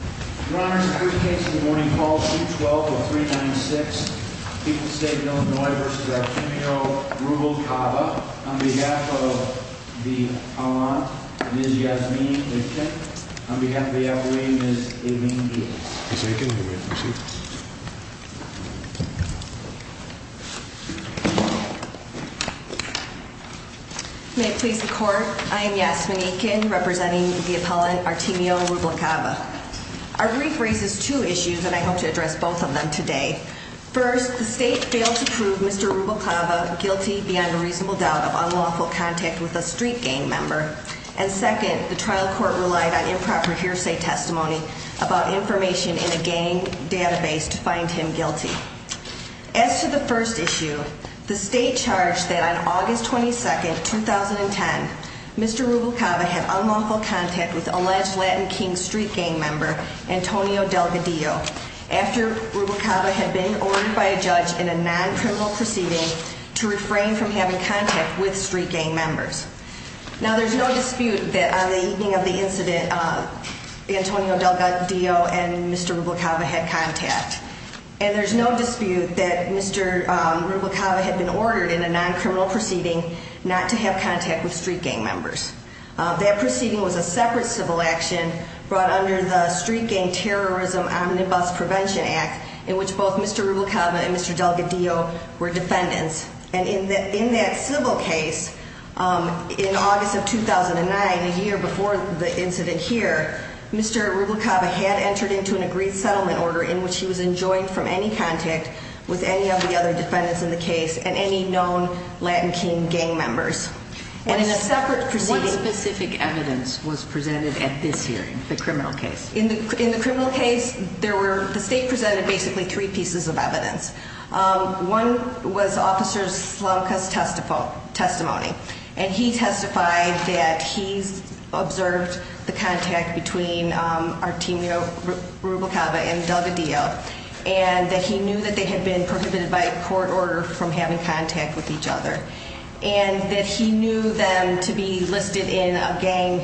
On behalf of the appellant, Ms. Yasmine Aitken. On behalf of the appellant, Ms. Aimeen Eats. Ms. Aitken, you may proceed. May it please the court, I am Yasmine Aitken, representing the appellant Artimio Rubalcava. Our brief raises two issues and I hope to address both of them today. First, the state failed to prove Mr. Rubalcava guilty beyond a reasonable doubt of unlawful contact with a street gang member. And second, the trial court relied on improper hearsay testimony about information in a gang database to find him guilty. As to the first issue, the state charged that on August 22, 2010, Mr. Rubalcava had unlawful contact with alleged Latin King street gang member Antonio Delgadillo after Rubalcava had been ordered by a judge in a non-criminal proceeding to refrain from having contact with street gang members. Now, there's no dispute that on the evening of the incident, Antonio Delgadillo and Mr. Rubalcava had contact. And there's no dispute that Mr. Rubalcava had been ordered in a non-criminal proceeding not to have contact with street gang members. That proceeding was a separate civil action brought under the Street Gang Terrorism Omnibus Prevention Act in which both Mr. Rubalcava and Mr. Delgadillo were defendants. And in that civil case, in August of 2009, a year before the incident here, Mr. Rubalcava had entered into an agreed settlement order in which he was enjoined from any contact with any of the other defendants in the case and any known Latin King gang members. And in a separate proceeding... What specific evidence was presented at this hearing, the criminal case? In the criminal case, the state presented basically three pieces of evidence. One was Officer Slamka's testimony. And he testified that he observed the contact between Artemio Rubalcava and Delgadillo and that he knew that they had been prohibited by court order from having contact with each other. And that he knew them to be listed in a gang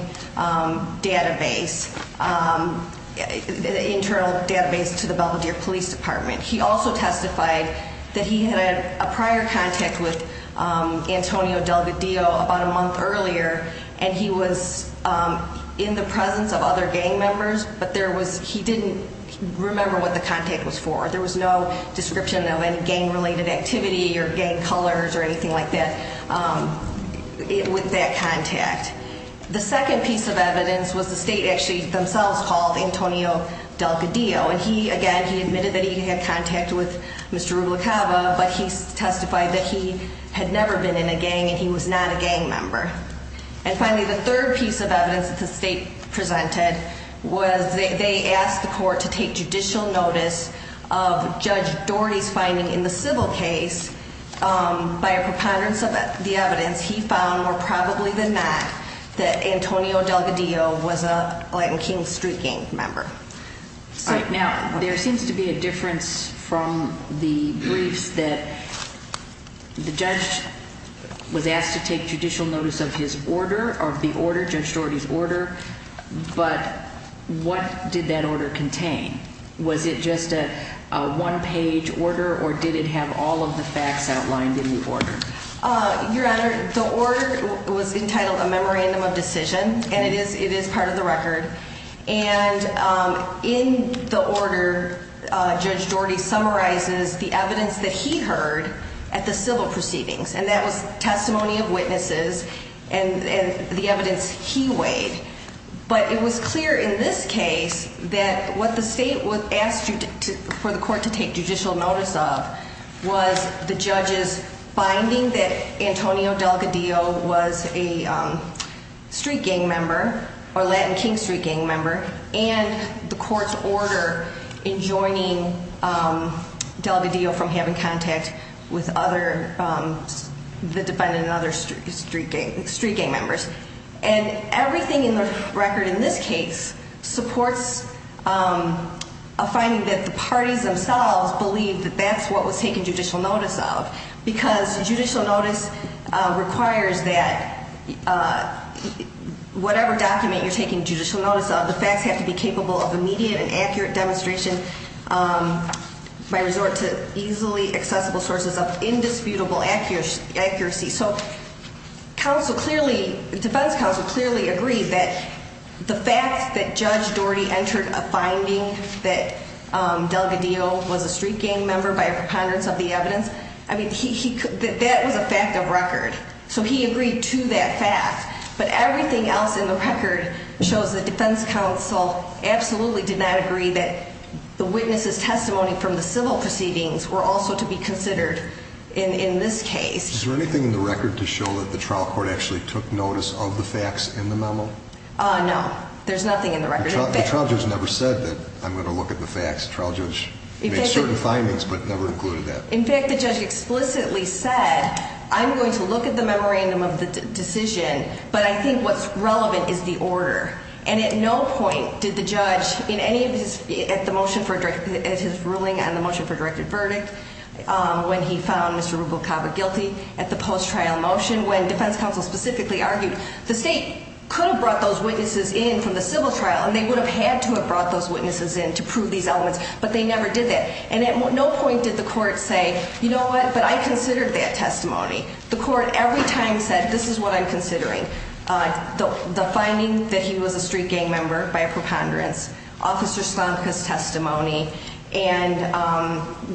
database, an internal database to the Belvedere Police Department. He also testified that he had a prior contact with Antonio Delgadillo about a month earlier and he was in the presence of other gang members, but he didn't remember what the contact was for. There was no description of any gang-related activity or gang colors or anything like that with that contact. The second piece of evidence was the state actually themselves called Antonio Delgadillo. And he, again, he admitted that he had contact with Mr. Rubalcava, but he testified that he had never been in a gang and he was not a gang member. And finally, the third piece of evidence that the state presented was they asked the court to take judicial notice of Judge Doherty's finding in the civil case. By a preponderance of the evidence, he found, more probably than not, that Antonio Delgadillo was a Latin King street gang member. All right. Now, there seems to be a difference from the briefs that the judge was asked to take judicial notice of his order, of the order, Judge Doherty's order, but what did that order contain? Was it just a one-page order or did it have all of the facts outlined in the order? Your Honor, the order was entitled a memorandum of decision, and it is part of the record. And in the order, Judge Doherty summarizes the evidence that he heard at the civil proceedings, and that was testimony of witnesses and the evidence he weighed. But it was clear in this case that what the state asked for the court to take judicial notice of was the judge's finding that Antonio Delgadillo was a street gang member or Latin King street gang member and the court's order in joining Delgadillo from having contact with the defendant and other street gang members. And everything in the record in this case supports a finding that the parties themselves believe that that's what was taken judicial notice of because judicial notice requires that whatever document you're taking judicial notice of, the facts have to be capable of immediate and accurate demonstration by resort to easily accessible sources of indisputable accuracy. So defense counsel clearly agreed that the fact that Judge Doherty entered a finding that Delgadillo was a street gang member by a preponderance of the evidence, I mean, that was a fact of record. So he agreed to that fact. But everything else in the record shows that defense counsel absolutely did not agree that the witnesses' testimony from the civil proceedings were also to be considered in this case. Is there anything in the record to show that the trial court actually took notice of the facts in the memo? No, there's nothing in the record. The trial judge never said that I'm going to look at the facts. The trial judge made certain findings but never included that. In fact, the judge explicitly said, I'm going to look at the memorandum of the decision, but I think what's relevant is the order. And at no point did the judge in any of his, at the motion for, at his ruling on the motion for directed verdict, when he found Mr. Rubel-Cava guilty at the post-trial motion, when defense counsel specifically argued, the state could have brought those witnesses in from the civil trial and they would have had to have brought those witnesses in to prove these elements, but they never did that. And at no point did the court say, you know what, but I considered that testimony. The court every time said, this is what I'm considering. The finding that he was a street gang member by a preponderance, Officer Slavica's testimony, and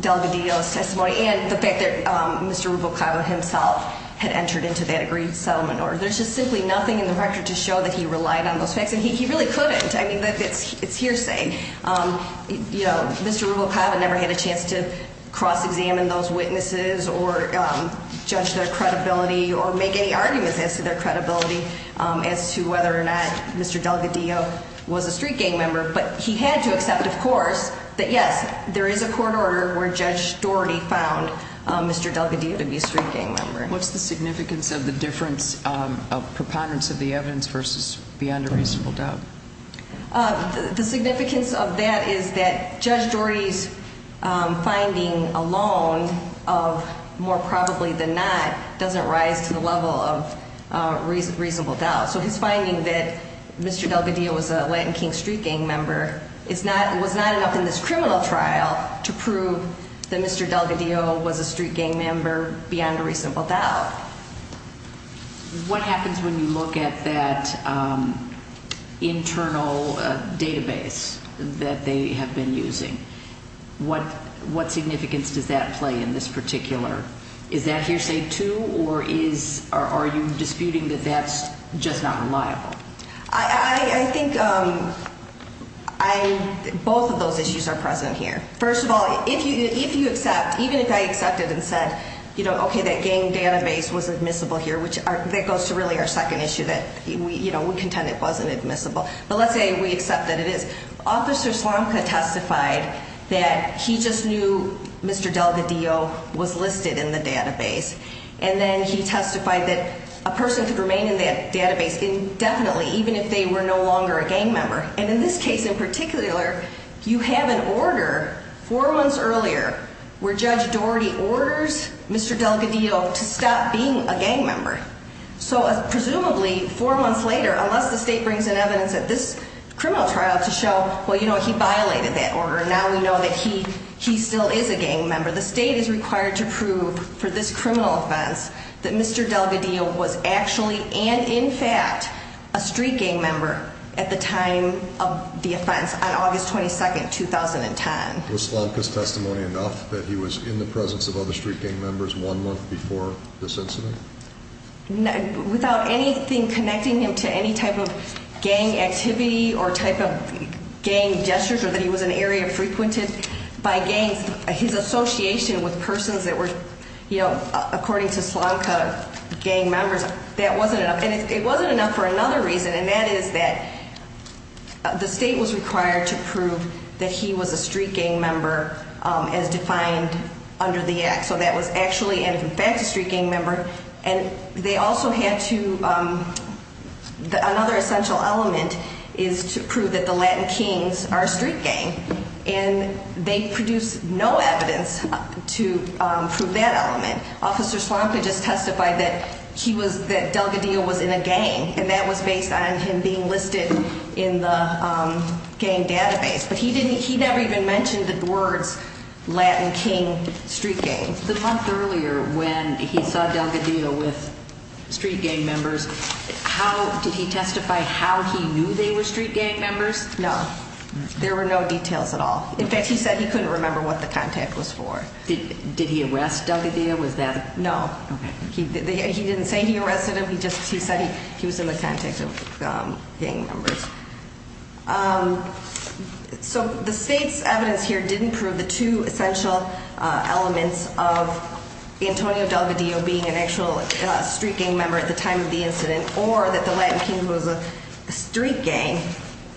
Delgadillo's testimony, and the fact that Mr. Rubel-Cava himself had entered into that agreed settlement order. There's just simply nothing in the record to show that he relied on those facts, and he really couldn't. I mean, it's hearsay. You know, Mr. Rubel-Cava never had a chance to cross-examine those witnesses or judge their credibility or make any arguments as to their credibility as to whether or not Mr. Delgadillo was a street gang member. But he had to accept, of course, that yes, there is a court order where Judge Doherty found Mr. Delgadillo to be a street gang member. What's the significance of the difference of preponderance of the evidence versus beyond a reasonable doubt? The significance of that is that Judge Doherty's finding alone of more probably than not doesn't rise to the level of reasonable doubt. So his finding that Mr. Delgadillo was a Latin King street gang member was not enough in this criminal trial to prove that Mr. Delgadillo was a street gang member beyond a reasonable doubt. What happens when you look at that internal database that they have been using? What significance does that play in this particular? Is that hearsay, too, or are you disputing that that's just not reliable? I think both of those issues are present here. First of all, if you accept, even if I accepted and said, OK, that gang database was admissible here, which that goes to really our second issue that we contend it wasn't admissible. But let's say we accept that it is. Officer Slomka testified that he just knew Mr. Delgadillo was listed in the database. And then he testified that a person could remain in that database indefinitely, even if they were no longer a gang member. And in this case in particular, you have an order four months earlier where Judge Doherty orders Mr. Delgadillo to stop being a gang member. So presumably four months later, unless the state brings in evidence at this criminal trial to show, well, you know, he violated that order. Now we know that he still is a gang member. The state is required to prove for this criminal offense that Mr. Delgadillo was actually and in fact a street gang member at the time of the offense on August 22nd, 2010. Was Slomka's testimony enough that he was in the presence of other street gang members one month before this incident? Without anything connecting him to any type of gang activity or type of gang gestures or that he was an area frequented by gangs, his association with persons that were, you know, according to Slomka, gang members, that wasn't enough. And it wasn't enough for another reason, and that is that the state was required to prove that he was a street gang member as defined under the act. So that was actually and in fact a street gang member. And they also had to, another essential element is to prove that the Latin Kings are a street gang. And they produced no evidence to prove that element. Officer Slomka just testified that he was, that Delgadillo was in a gang, and that was based on him being listed in the gang database. But he didn't, he never even mentioned the words Latin King street gang. The month earlier when he saw Delgadillo with street gang members, how, did he testify how he knew they were street gang members? No. There were no details at all. In fact, he said he couldn't remember what the contact was for. Did he arrest Delgadillo with them? No. Okay. He didn't say he arrested him. He just, he said he was in the contact of gang members. So the state's evidence here didn't prove the two essential elements of Antonio Delgadillo being an actual street gang member at the time of the incident, or that the Latin King was a street gang.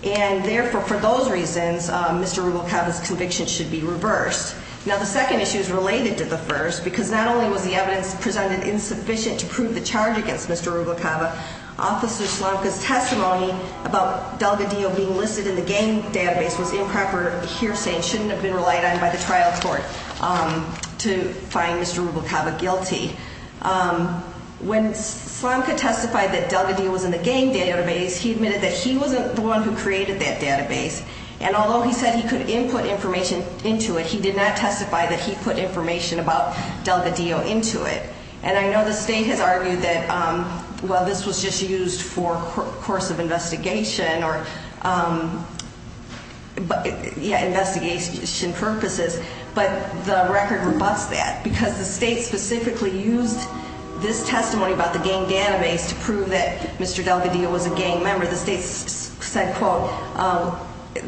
And therefore, for those reasons, Mr. Rubalcaba's conviction should be reversed. Now, the second issue is related to the first, because not only was the evidence presented insufficient to prove the charge against Mr. Rubalcaba, Officer Slomka's testimony about Delgadillo being listed in the gang database was improper hearsay and shouldn't have been relied on by the trial court to find Mr. Rubalcaba guilty. When Slomka testified that Delgadillo was in the gang database, he admitted that he wasn't the one who created that database. And although he said he could input information into it, he did not testify that he put information about Delgadillo into it. And I know the state has argued that, well, this was just used for course of investigation or, yeah, investigation purposes. But the record rebuts that, because the state specifically used this testimony about the gang database to prove that Mr. Delgadillo was a gang member. The state said, quote,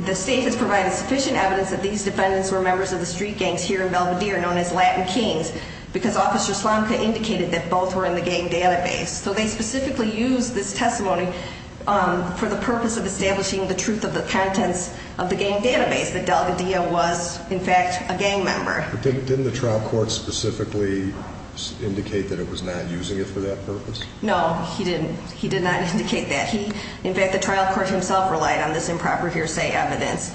the state has provided sufficient evidence that these defendants were members of the street gangs here in Belvedere known as Latin Kings, because Officer Slomka indicated that both were in the gang database. So they specifically used this testimony for the purpose of establishing the truth of the contents of the gang database, that Delgadillo was, in fact, a gang member. Didn't the trial court specifically indicate that it was not using it for that purpose? No, he did not indicate that. In fact, the trial court himself relied on this improper hearsay evidence.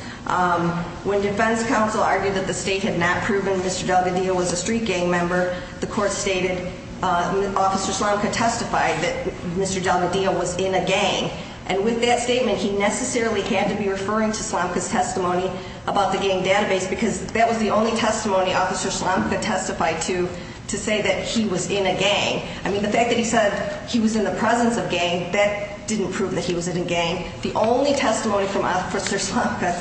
When defense counsel argued that the state had not proven Mr. Delgadillo was a street gang member, the court stated Officer Slomka testified that Mr. Delgadillo was in a gang. And with that statement, he necessarily had to be referring to Slomka's testimony about the gang database, because that was the only testimony Officer Slomka testified to, to say that he was in a gang. I mean, the fact that he said he was in the presence of gang, that didn't prove that he was in a gang. The only testimony from Officer Slomka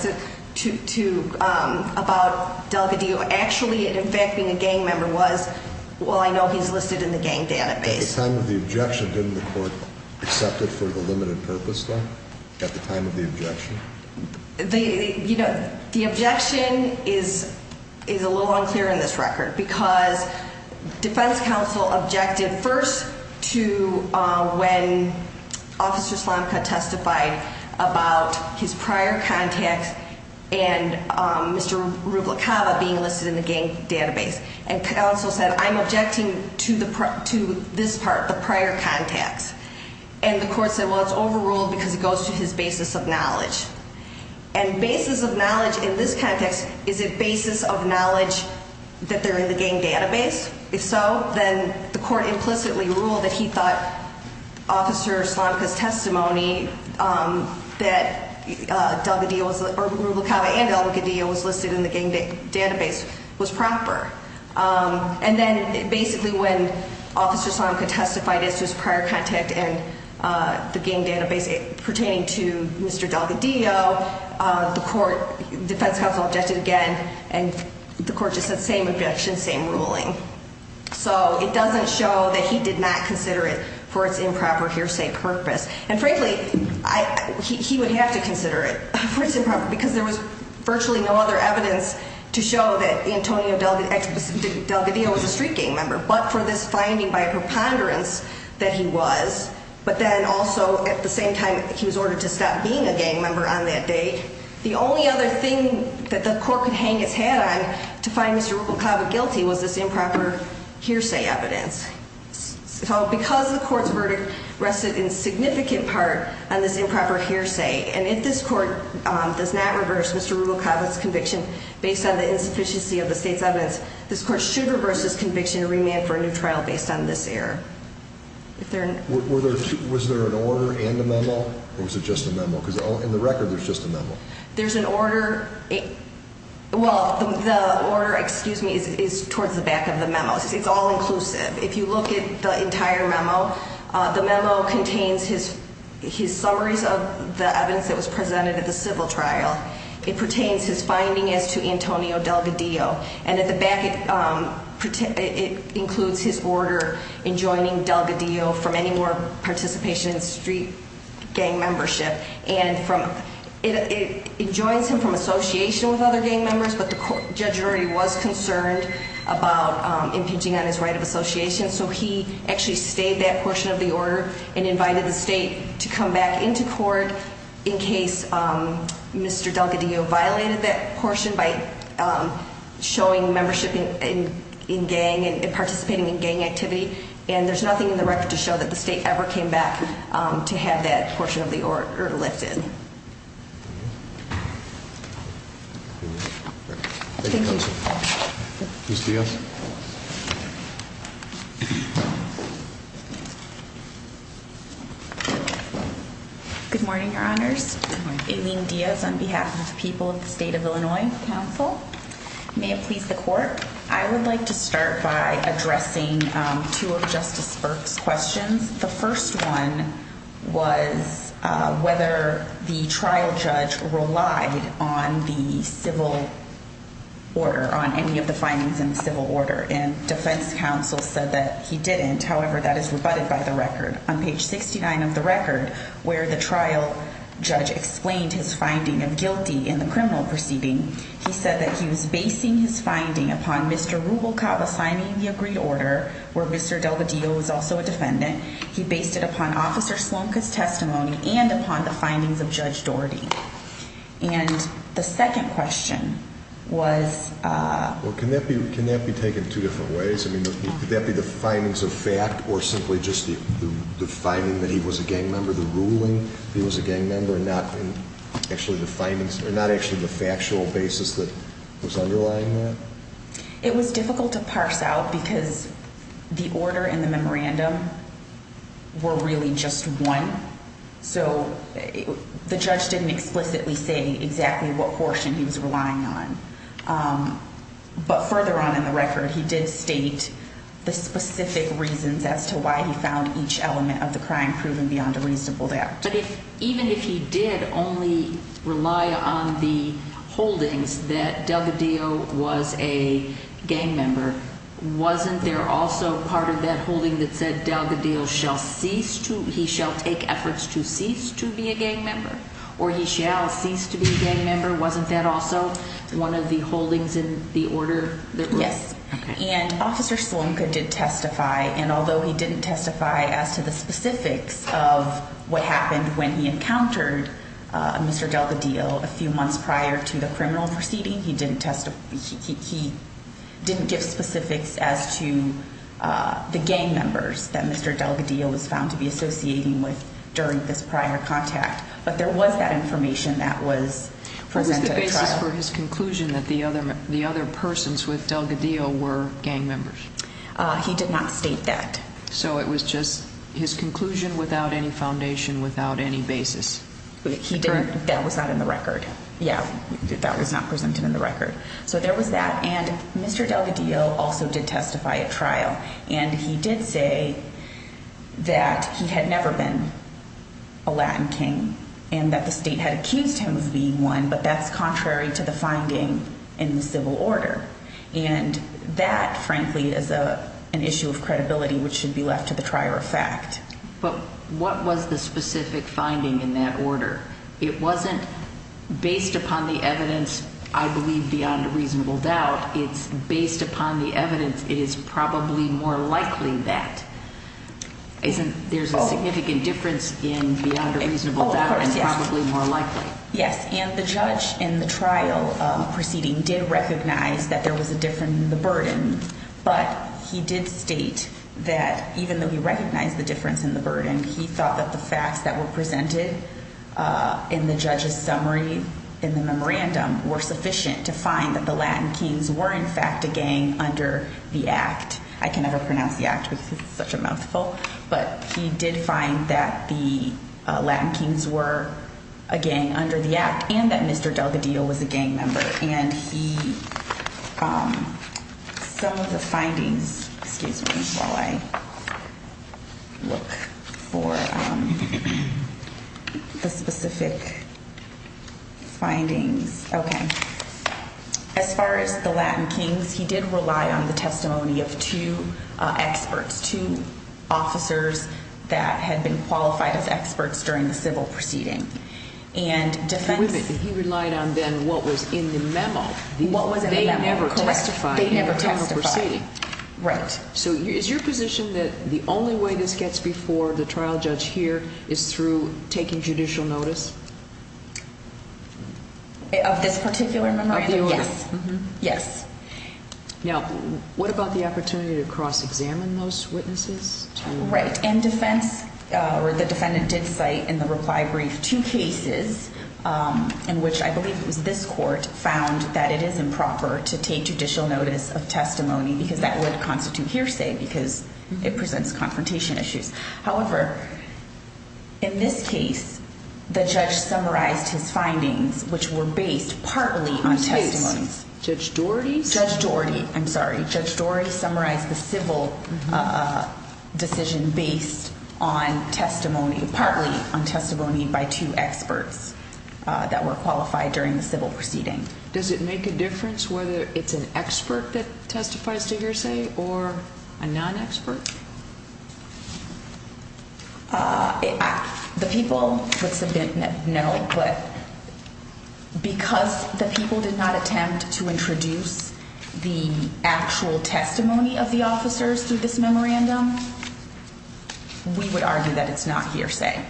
about Delgadillo actually, in fact, being a gang member was, well, I know he's listed in the gang database. At the time of the objection, didn't the court accept it for the limited purpose, though, at the time of the objection? The objection is a little unclear in this record, because defense counsel objected first to when Officer Slomka testified about his prior contacts and Mr. Rubalcaba being listed in the gang database. And counsel said, I'm objecting to this part, the prior contacts. And the court said, well, it's overruled because it goes to his basis of knowledge. And basis of knowledge in this context, is it basis of knowledge that they're in the gang database? If so, then the court implicitly ruled that he thought Officer Slomka's testimony that Rubalcaba and Delgadillo was listed in the gang database was proper. And then basically when Officer Slomka testified as to his prior contact and the gang database pertaining to Mr. Delgadillo, the defense counsel objected again. And the court just said, same objection, same ruling. So it doesn't show that he did not consider it for its improper hearsay purpose. And frankly, he would have to consider it for its improper, because there was virtually no other evidence to show that Antonio Delgadillo was a street gang member. But for this finding by preponderance that he was, but then also at the same time he was ordered to stop being a gang member on that date. The only other thing that the court could hang its head on to find Mr. Rubalcaba guilty was this improper hearsay evidence. So because the court's verdict rested in significant part on this improper hearsay. And if this court does not reverse Mr. Rubalcaba's conviction based on the insufficiency of the state's evidence, this court should reverse this conviction and remand for a new trial based on this error. Was there an order in the memo, or was it just a memo? Because in the record, there's just a memo. There's an order. Well, the order, excuse me, is towards the back of the memo. It's all inclusive. If you look at the entire memo, the memo contains his summaries of the evidence that was presented at the civil trial. It pertains his finding as to Antonio Delgadillo. And at the back, it includes his order in joining Delgadillo from any more participation in street gang membership. And it joins him from association with other gang members, but the judge already was concerned about impeaching on his right of association, so he actually stayed that portion of the order and invited the state to come back into court in case Mr. Delgadillo violated that portion by showing membership in gang and participating in gang activity. And there's nothing in the record to show that the state ever came back to have that portion of the order lifted. Thank you. Ms. Diaz. Good morning, Your Honors. Good morning. Aileen Diaz on behalf of the people of the State of Illinois Council. May it please the court, I would like to start by addressing two of Justice Burke's questions. The first one was whether the trial judge relied on the civil order, on any of the findings in the civil order. And defense counsel said that he didn't. However, that is rebutted by the record. On page 69 of the record, where the trial judge explained his finding of guilty in the criminal proceeding, he said that he was basing his finding upon Mr. Rubalcaba signing the agreed order, where Mr. Delgadillo was also a defendant. He based it upon Officer Slomka's testimony and upon the findings of Judge Doherty. And the second question was... Well, can that be taken two different ways? I mean, could that be the findings of fact or simply just the finding that he was a gang member, the ruling that he was a gang member and not actually the factual basis that was underlying that? It was difficult to parse out because the order and the memorandum were really just one. So the judge didn't explicitly say exactly what portion he was relying on. But further on in the record, he did state the specific reasons as to why he found each element of the crime proven beyond a reasonable doubt. But even if he did only rely on the holdings that Delgadillo was a gang member, wasn't there also part of that holding that said Delgadillo shall take efforts to cease to be a gang member? Or he shall cease to be a gang member? Wasn't that also one of the holdings in the order? Yes. Okay. And Officer Salonka did testify. And although he didn't testify as to the specifics of what happened when he encountered Mr. Delgadillo a few months prior to the criminal proceeding, he didn't give specifics as to the gang members that Mr. Delgadillo was found to be associating with during this prior contact. But there was that information that was presented at trial. Except for his conclusion that the other persons with Delgadillo were gang members. He did not state that. So it was just his conclusion without any foundation, without any basis. That was not in the record. Yeah. That was not presented in the record. So there was that. And Mr. Delgadillo also did testify at trial. And he did say that he had never been a Latin king and that the state had accused him of being one, but that's contrary to the finding in the civil order. And that, frankly, is an issue of credibility which should be left to the trier of fact. But what was the specific finding in that order? It wasn't based upon the evidence, I believe, beyond a reasonable doubt. It's based upon the evidence. It is probably more likely that there's a significant difference beyond a reasonable doubt and probably more likely. Yes. And the judge in the trial proceeding did recognize that there was a difference in the burden. But he did state that even though he recognized the difference in the burden, he thought that the facts that were presented in the judge's summary in the memorandum were sufficient to find that the Latin kings were, in fact, a gang under the act. I can never pronounce the act because it's such a mouthful. But he did find that the Latin kings were a gang under the act and that Mr. Delgadillo was a gang member. And some of the findings, excuse me while I look for the specific findings. Okay. As far as the Latin kings, he did rely on the testimony of two experts, two officers that had been qualified as experts during the civil proceeding. And defense. And he relied on then what was in the memo. What was in the memo, correct. They never testified in the criminal proceeding. Right. So is your position that the only way this gets before the trial judge here is through taking judicial notice? Of this particular memorandum? Of the order. Yes. Now, what about the opportunity to cross-examine those witnesses? Right. And defense, or the defendant did cite in the reply brief two cases in which I believe it was this court found that it is improper to take judicial notice of testimony because that would constitute hearsay because it presents confrontation issues. However, in this case, the judge summarized his findings, which were based partly on testimony. Judge Doherty? Judge Doherty. I'm sorry. Judge Doherty summarized the civil decision based on testimony, partly on testimony by two experts that were qualified during the civil proceeding. Does it make a difference whether it's an expert that testifies to hearsay or a non-expert? The people would submit no, but because the people did not attempt to introduce the actual testimony of the officers through this memorandum, we would argue that it's not hearsay.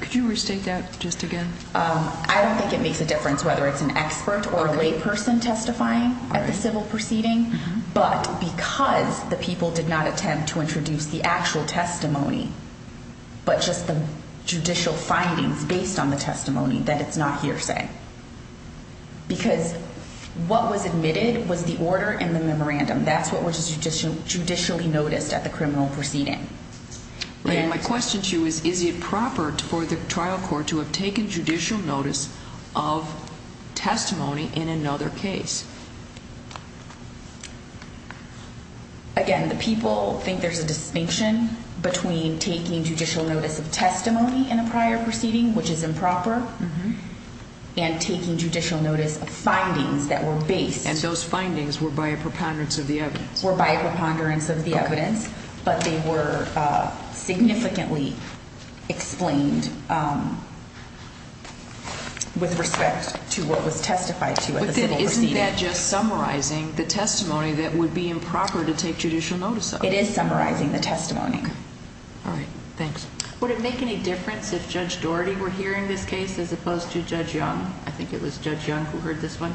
Could you restate that just again? I don't think it makes a difference whether it's an expert or a layperson testifying at the civil proceeding. But because the people did not attempt to introduce the actual testimony, but just the judicial findings based on the testimony, that it's not hearsay. Because what was admitted was the order in the memorandum. That's what was judicially noticed at the criminal proceeding. My question to you is, is it proper for the trial court to have taken judicial notice of testimony in another case? Again, the people think there's a distinction between taking judicial notice of testimony in a prior proceeding, which is improper, and taking judicial notice of findings that were based. And those findings were by a preponderance of the evidence. But they were significantly explained with respect to what was testified to at the civil proceeding. But isn't that just summarizing the testimony that would be improper to take judicial notice of? It is summarizing the testimony. All right. Thanks. Would it make any difference if Judge Doherty were hearing this case as opposed to Judge Young? I think it was Judge Young who heard this one.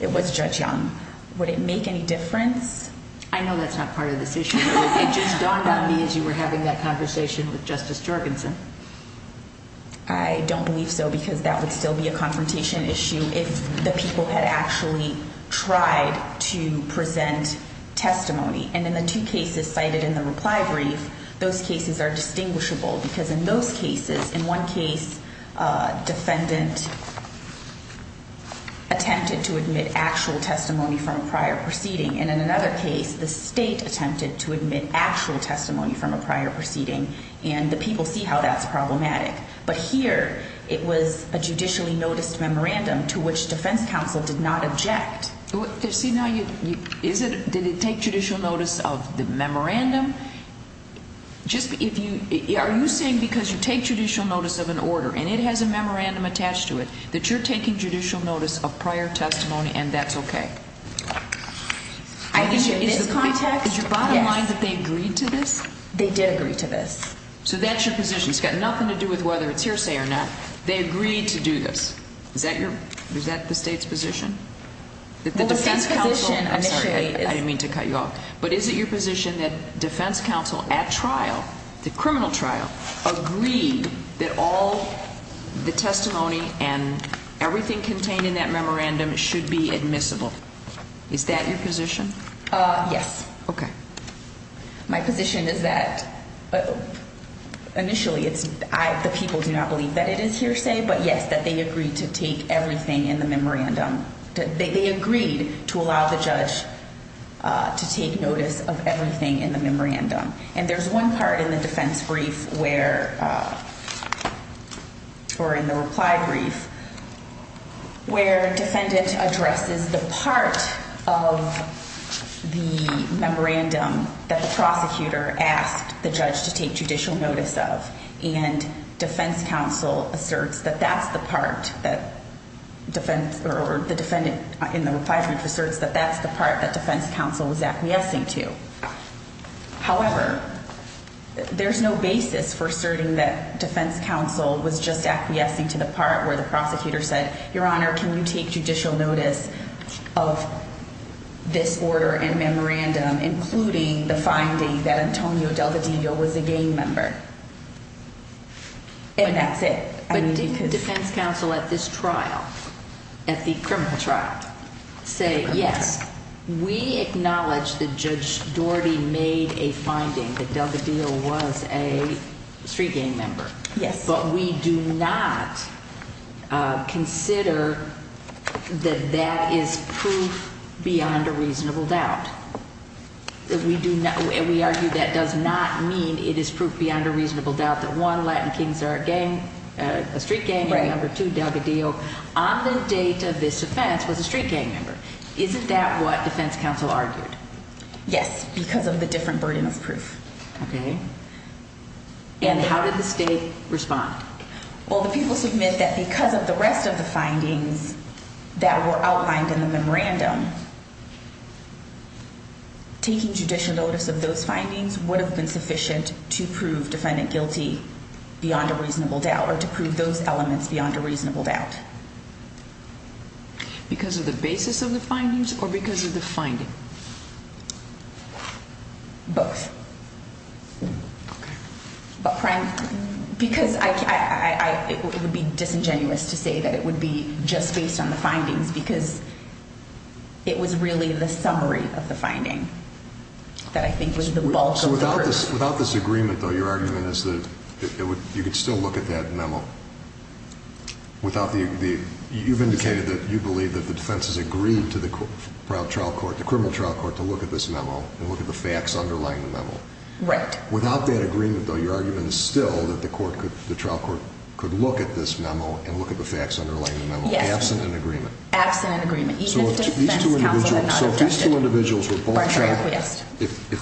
It was Judge Young. Would it make any difference? I know that's not part of this issue. It just dawned on me as you were having that conversation with Justice Jorgensen. I don't believe so because that would still be a confrontation issue if the people had actually tried to present testimony. And in the two cases cited in the reply brief, those cases are distinguishable. Because in those cases, in one case, defendant attempted to admit actual testimony from a prior proceeding. And in another case, the state attempted to admit actual testimony from a prior proceeding. And the people see how that's problematic. But here, it was a judicially noticed memorandum to which defense counsel did not object. See, now, did it take judicial notice of the memorandum? Are you saying because you take judicial notice of an order and it has a memorandum attached to it, that you're taking judicial notice of prior testimony and that's okay? I think in this context, yes. Is your bottom line that they agreed to this? They did agree to this. So that's your position. It's got nothing to do with whether it's hearsay or not. They agreed to do this. Is that the state's position? Well, the state's position initially is... I'm sorry, I didn't mean to cut you off. But is it your position that defense counsel at trial, the criminal trial, agreed that all the testimony and everything contained in that memorandum should be admissible? Is that your position? Yes. Okay. My position is that initially, the people do not believe that it is hearsay. But, yes, that they agreed to take everything in the memorandum. They agreed to allow the judge to take notice of everything in the memorandum. And there's one part in the defense brief where, or in the reply brief, where defendant addresses the part of the memorandum that the prosecutor asked the judge to take judicial notice of. And defense counsel asserts that that's the part that defense, or the defendant in the reply brief, asserts that that's the part that defense counsel was acquiescing to. However, there's no basis for asserting that defense counsel was just acquiescing to the part where the prosecutor said, Your Honor, can you take judicial notice of this order and memorandum, including the finding that Antonio Delvedillo was a gang member? And that's it. But didn't defense counsel at this trial, at the criminal trial, say, yes, we acknowledge that Judge Doherty made a finding that Delvedillo was a street gang member. Yes. But we do not consider that that is proof beyond a reasonable doubt. We argue that does not mean it is proof beyond a reasonable doubt that, one, Latin Kings are a gang, a street gang member. Two, Delvedillo, on the date of this offense, was a street gang member. Isn't that what defense counsel argued? Yes, because of the different burden of proof. Okay. And how did the state respond? Well, the people submit that because of the rest of the findings that were outlined in the memorandum, taking judicial notice of those findings would have been sufficient to prove defendant guilty beyond a reasonable doubt or to prove those elements beyond a reasonable doubt. Because of the basis of the findings or because of the finding? Both. Okay. Because it would be disingenuous to say that it would be just based on the findings because it was really the summary of the finding that I think was the bulk of the burden. So without this agreement, though, your argument is that you could still look at that memo. You've indicated that you believe that the defense has agreed to the criminal trial court to look at this memo and look at the facts underlying the memo. Right. Without that agreement, though, your argument is still that the trial court could look at this memo and look at the facts underlying the memo, absent an agreement. Absent an agreement, even if defense counsel had not objected. So if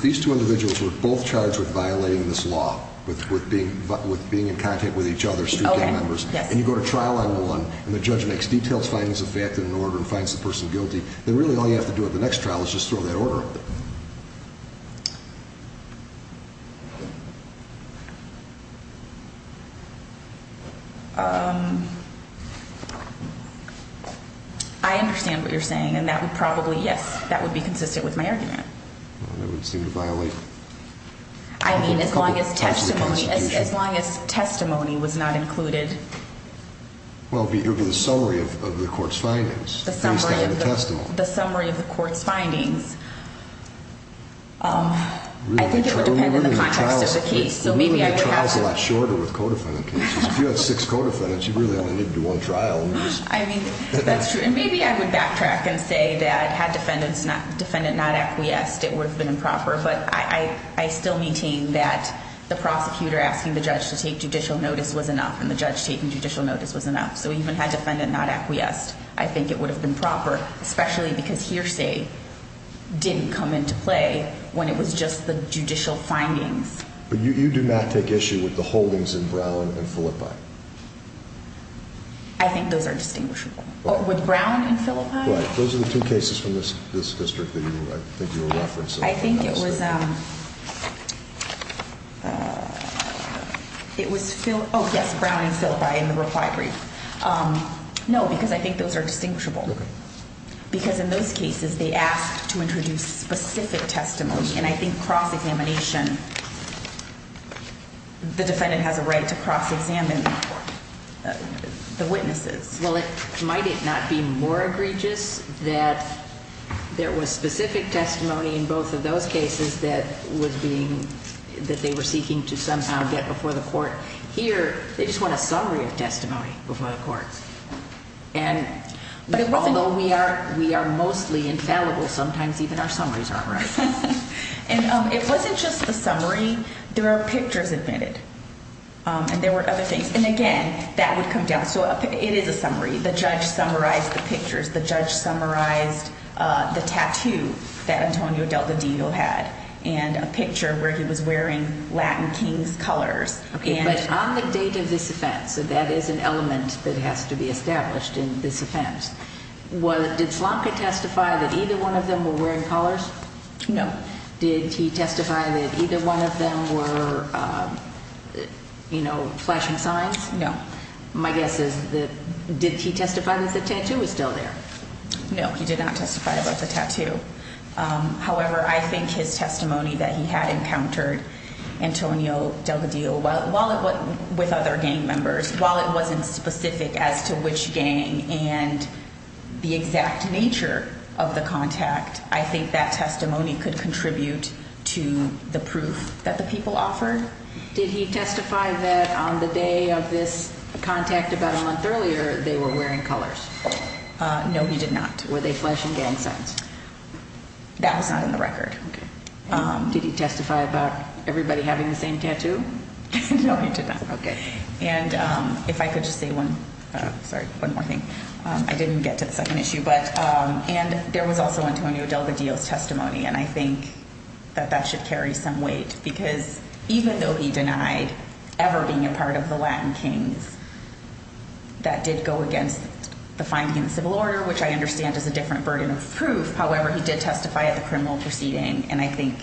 these two individuals were both charged with violating this law, with being in contact with each other, street gang members, and you go to trial on one, and the judge makes detailed findings of fact and order and finds the person guilty, then really all you have to do at the next trial is just throw that order up there. I understand what you're saying, and that would probably, yes, that would be consistent with my argument. That would seem to violate. I mean, as long as testimony was not included. Well, it would be the summary of the court's findings, based on the testimony. The summary of the court's findings. I think it would depend on the context of the case. Really, the trial is a lot shorter with co-defendant cases. If you had six co-defendants, you really only needed to do one trial. I mean, that's true. And maybe I would backtrack and say that had defendant not acquiesced, it would have been improper. But I still maintain that the prosecutor asking the judge to take judicial notice was enough, and the judge taking judicial notice was enough. So even had defendant not acquiesced, I think it would have been proper, especially because hearsay didn't come into play when it was just the judicial findings. But you do not take issue with the holdings in Brown and Philippi. I think those are distinguishable. With Brown and Philippi? Those are the two cases from this district that I think you were referencing. I think it was Phil—oh, yes, Brown and Philippi in the reply brief. No, because I think those are distinguishable. Because in those cases, they asked to introduce specific testimony, and I think cross-examination, the defendant has a right to cross-examine the witnesses. Well, might it not be more egregious that there was specific testimony in both of those cases that they were seeking to somehow get before the court? Here, they just want a summary of testimony before the court. And although we are mostly infallible, sometimes even our summaries aren't right. And it wasn't just a summary. There were pictures admitted, and there were other things. And again, that would come down. So it is a summary. The judge summarized the pictures. The judge summarized the tattoo that Antonio Delta Diego had and a picture where he was wearing Latin King's colors. But on the date of this offense, so that is an element that has to be established in this offense, did Slanka testify that either one of them were wearing collars? No. Did he testify that either one of them were flashing signs? No. My guess is that did he testify that the tattoo was still there? No, he did not testify about the tattoo. However, I think his testimony that he had encountered Antonio Delta Diego with other gang members, while it wasn't specific as to which gang and the exact nature of the contact, I think that testimony could contribute to the proof that the people offered. Did he testify that on the day of this contact about a month earlier they were wearing collars? No, he did not. Were they flashing gang signs? That was not in the record. Did he testify about everybody having the same tattoo? No, he did not. Okay. And if I could just say one more thing. And I think that that should carry some weight, because even though he denied ever being a part of the Latin Kings, that did go against the finding in the civil order, which I understand is a different burden of proof. However, he did testify at the criminal proceeding, and I think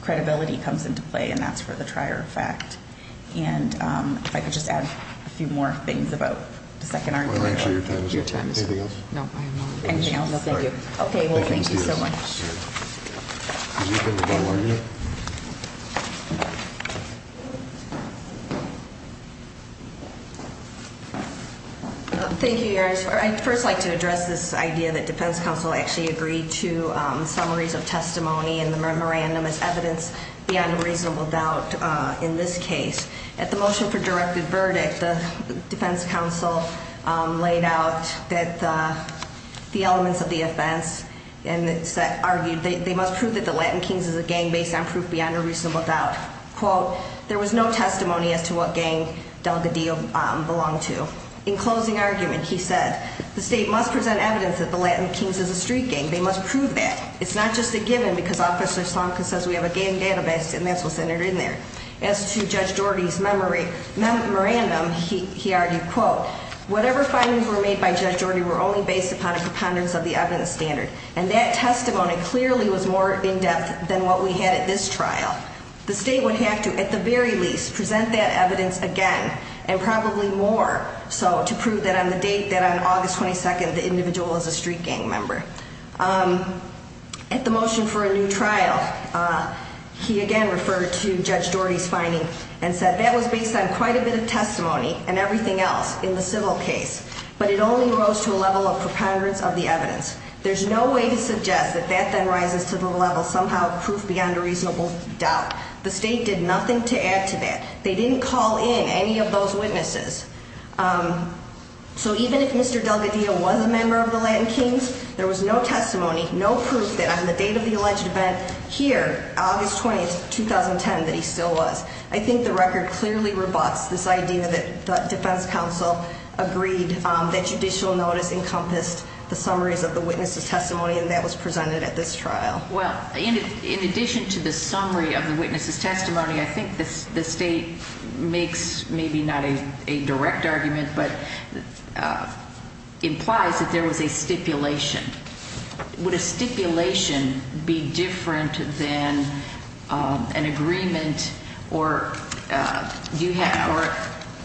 credibility comes into play, and that's for the trier effect. And if I could just add a few more things about the second argument. Your time is up. Anything else? No, I'm done. Anything else? No, thank you. Okay, well, thank you so much. Thank you, Your Honor. I'd first like to address this idea that defense counsel actually agreed to summaries of testimony in the memorandum as evidence beyond a reasonable doubt in this case. At the motion for directed verdict, the defense counsel laid out that the elements of the offense, and argued they must prove that the Latin Kings is a gang based on proof beyond a reasonable doubt. Quote, there was no testimony as to what gang Delgadillo belonged to. In closing argument, he said, the state must present evidence that the Latin Kings is a street gang. They must prove that. It's not just a given, because Officer Sonka says we have a gang database, and that's what's entered in there. As to Judge Doherty's memorandum, he argued, quote, whatever findings were made by Judge Doherty were only based upon a preponderance of the evidence standard. And that testimony clearly was more in depth than what we had at this trial. The state would have to, at the very least, present that evidence again, and probably more so, to prove that on the date that on August 22nd the individual is a street gang member. At the motion for a new trial, he again referred to Judge Doherty's finding and said that was based on quite a bit of testimony and everything else in the civil case. But it only rose to a level of preponderance of the evidence. There's no way to suggest that that then rises to the level somehow of proof beyond a reasonable doubt. The state did nothing to add to that. They didn't call in any of those witnesses. So even if Mr. Delgadillo was a member of the Latin Kings, there was no testimony, no proof that on the date of the alleged event here, August 20th, 2010, that he still was. I think the record clearly rebuts this idea that the defense counsel agreed that judicial notice encompassed the summaries of the witness's testimony, and that was presented at this trial. Well, in addition to the summary of the witness's testimony, I think the state makes maybe not a direct argument, but implies that there was a stipulation. Would a stipulation be different than an agreement or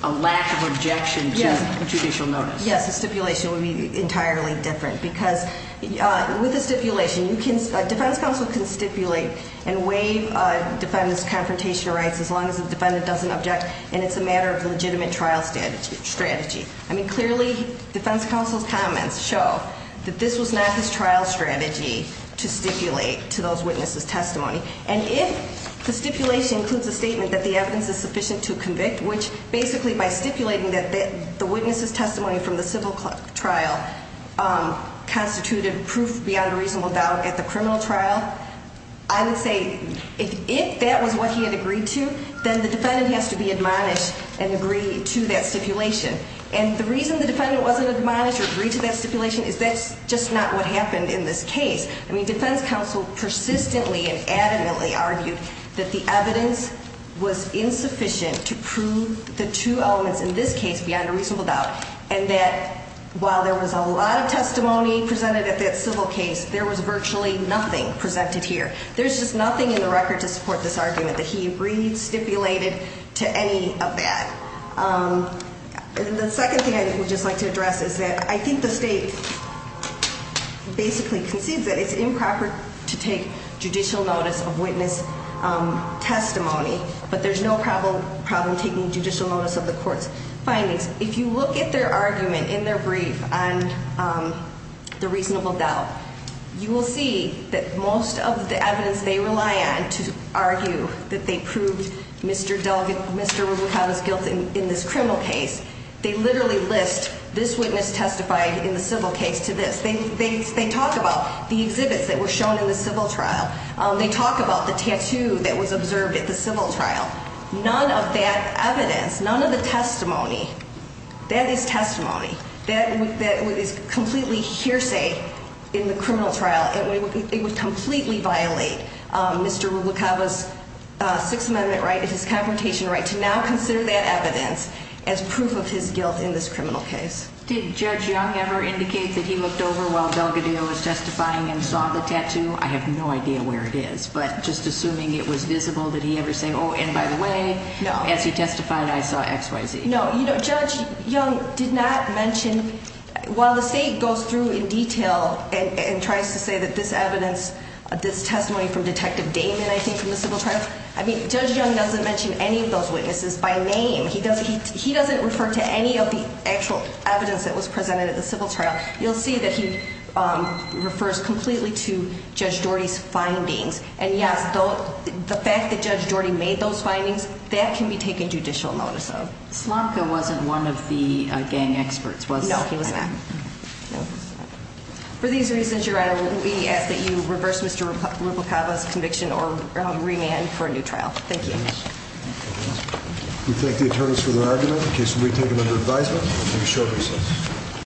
a lack of objection to a judicial notice? Yes, a stipulation would be entirely different because with a stipulation, a defense counsel can stipulate and waive a defendant's confrontation rights as long as the defendant doesn't object, and it's a matter of legitimate trial strategy. I mean, clearly, defense counsel's comments show that this was not his trial strategy to stipulate to those witnesses' testimony. And if the stipulation includes a statement that the evidence is sufficient to convict, which basically by stipulating that the witness's testimony from the civil trial constituted proof beyond a reasonable doubt at the criminal trial, I would say, if that was what he had agreed to, then the defendant has to be admonished and agree to that stipulation. And the reason the defendant wasn't admonished or agreed to that stipulation is that's just not what happened in this case. I mean, defense counsel persistently and adamantly argued that the evidence was insufficient to prove the two elements in this case beyond a reasonable doubt, and that while there was a lot of testimony presented at that civil case, there was virtually nothing presented here. There's just nothing in the record to support this argument that he agreed stipulated to any of that. The second thing I would just like to address is that I think the state basically concedes that it's improper to take judicial notice of witness testimony, but there's no problem taking judicial notice of the court's findings. If you look at their argument in their brief on the reasonable doubt, you will see that most of the evidence they rely on to argue that they proved Mr. Rubicata's guilt in this criminal case, they literally list this witness testified in the civil case to this. They talk about the exhibits that were shown in the civil trial. They talk about the tattoo that was observed at the civil trial. None of that evidence, none of the testimony, that is testimony. That is completely hearsay in the criminal trial. It would completely violate Mr. Rubicata's Sixth Amendment right, his confrontation right, to now consider that evidence as proof of his guilt in this criminal case. Did Judge Young ever indicate that he looked over while Delgadillo was testifying and saw the tattoo? I have no idea where it is, but just assuming it was visible, did he ever say, oh, and by the way, as he testified, I saw X, Y, Z? No, you know, Judge Young did not mention, while the state goes through in detail and tries to say that this evidence, this testimony from Detective Damon, I think, from the civil trial, I mean, Judge Young doesn't mention any of those witnesses by name. He doesn't refer to any of the actual evidence that was presented at the civil trial. You'll see that he refers completely to Judge Doherty's findings. And yes, the fact that Judge Doherty made those findings, that can be taken judicial notice of. Slomka wasn't one of the gang experts, was he? No, he was not. For these reasons, Your Honor, we ask that you reverse Mr. Rubicata's conviction or remand for a new trial. Thank you. We thank the attorneys for their argument. The case will be taken under advisement and a short recess.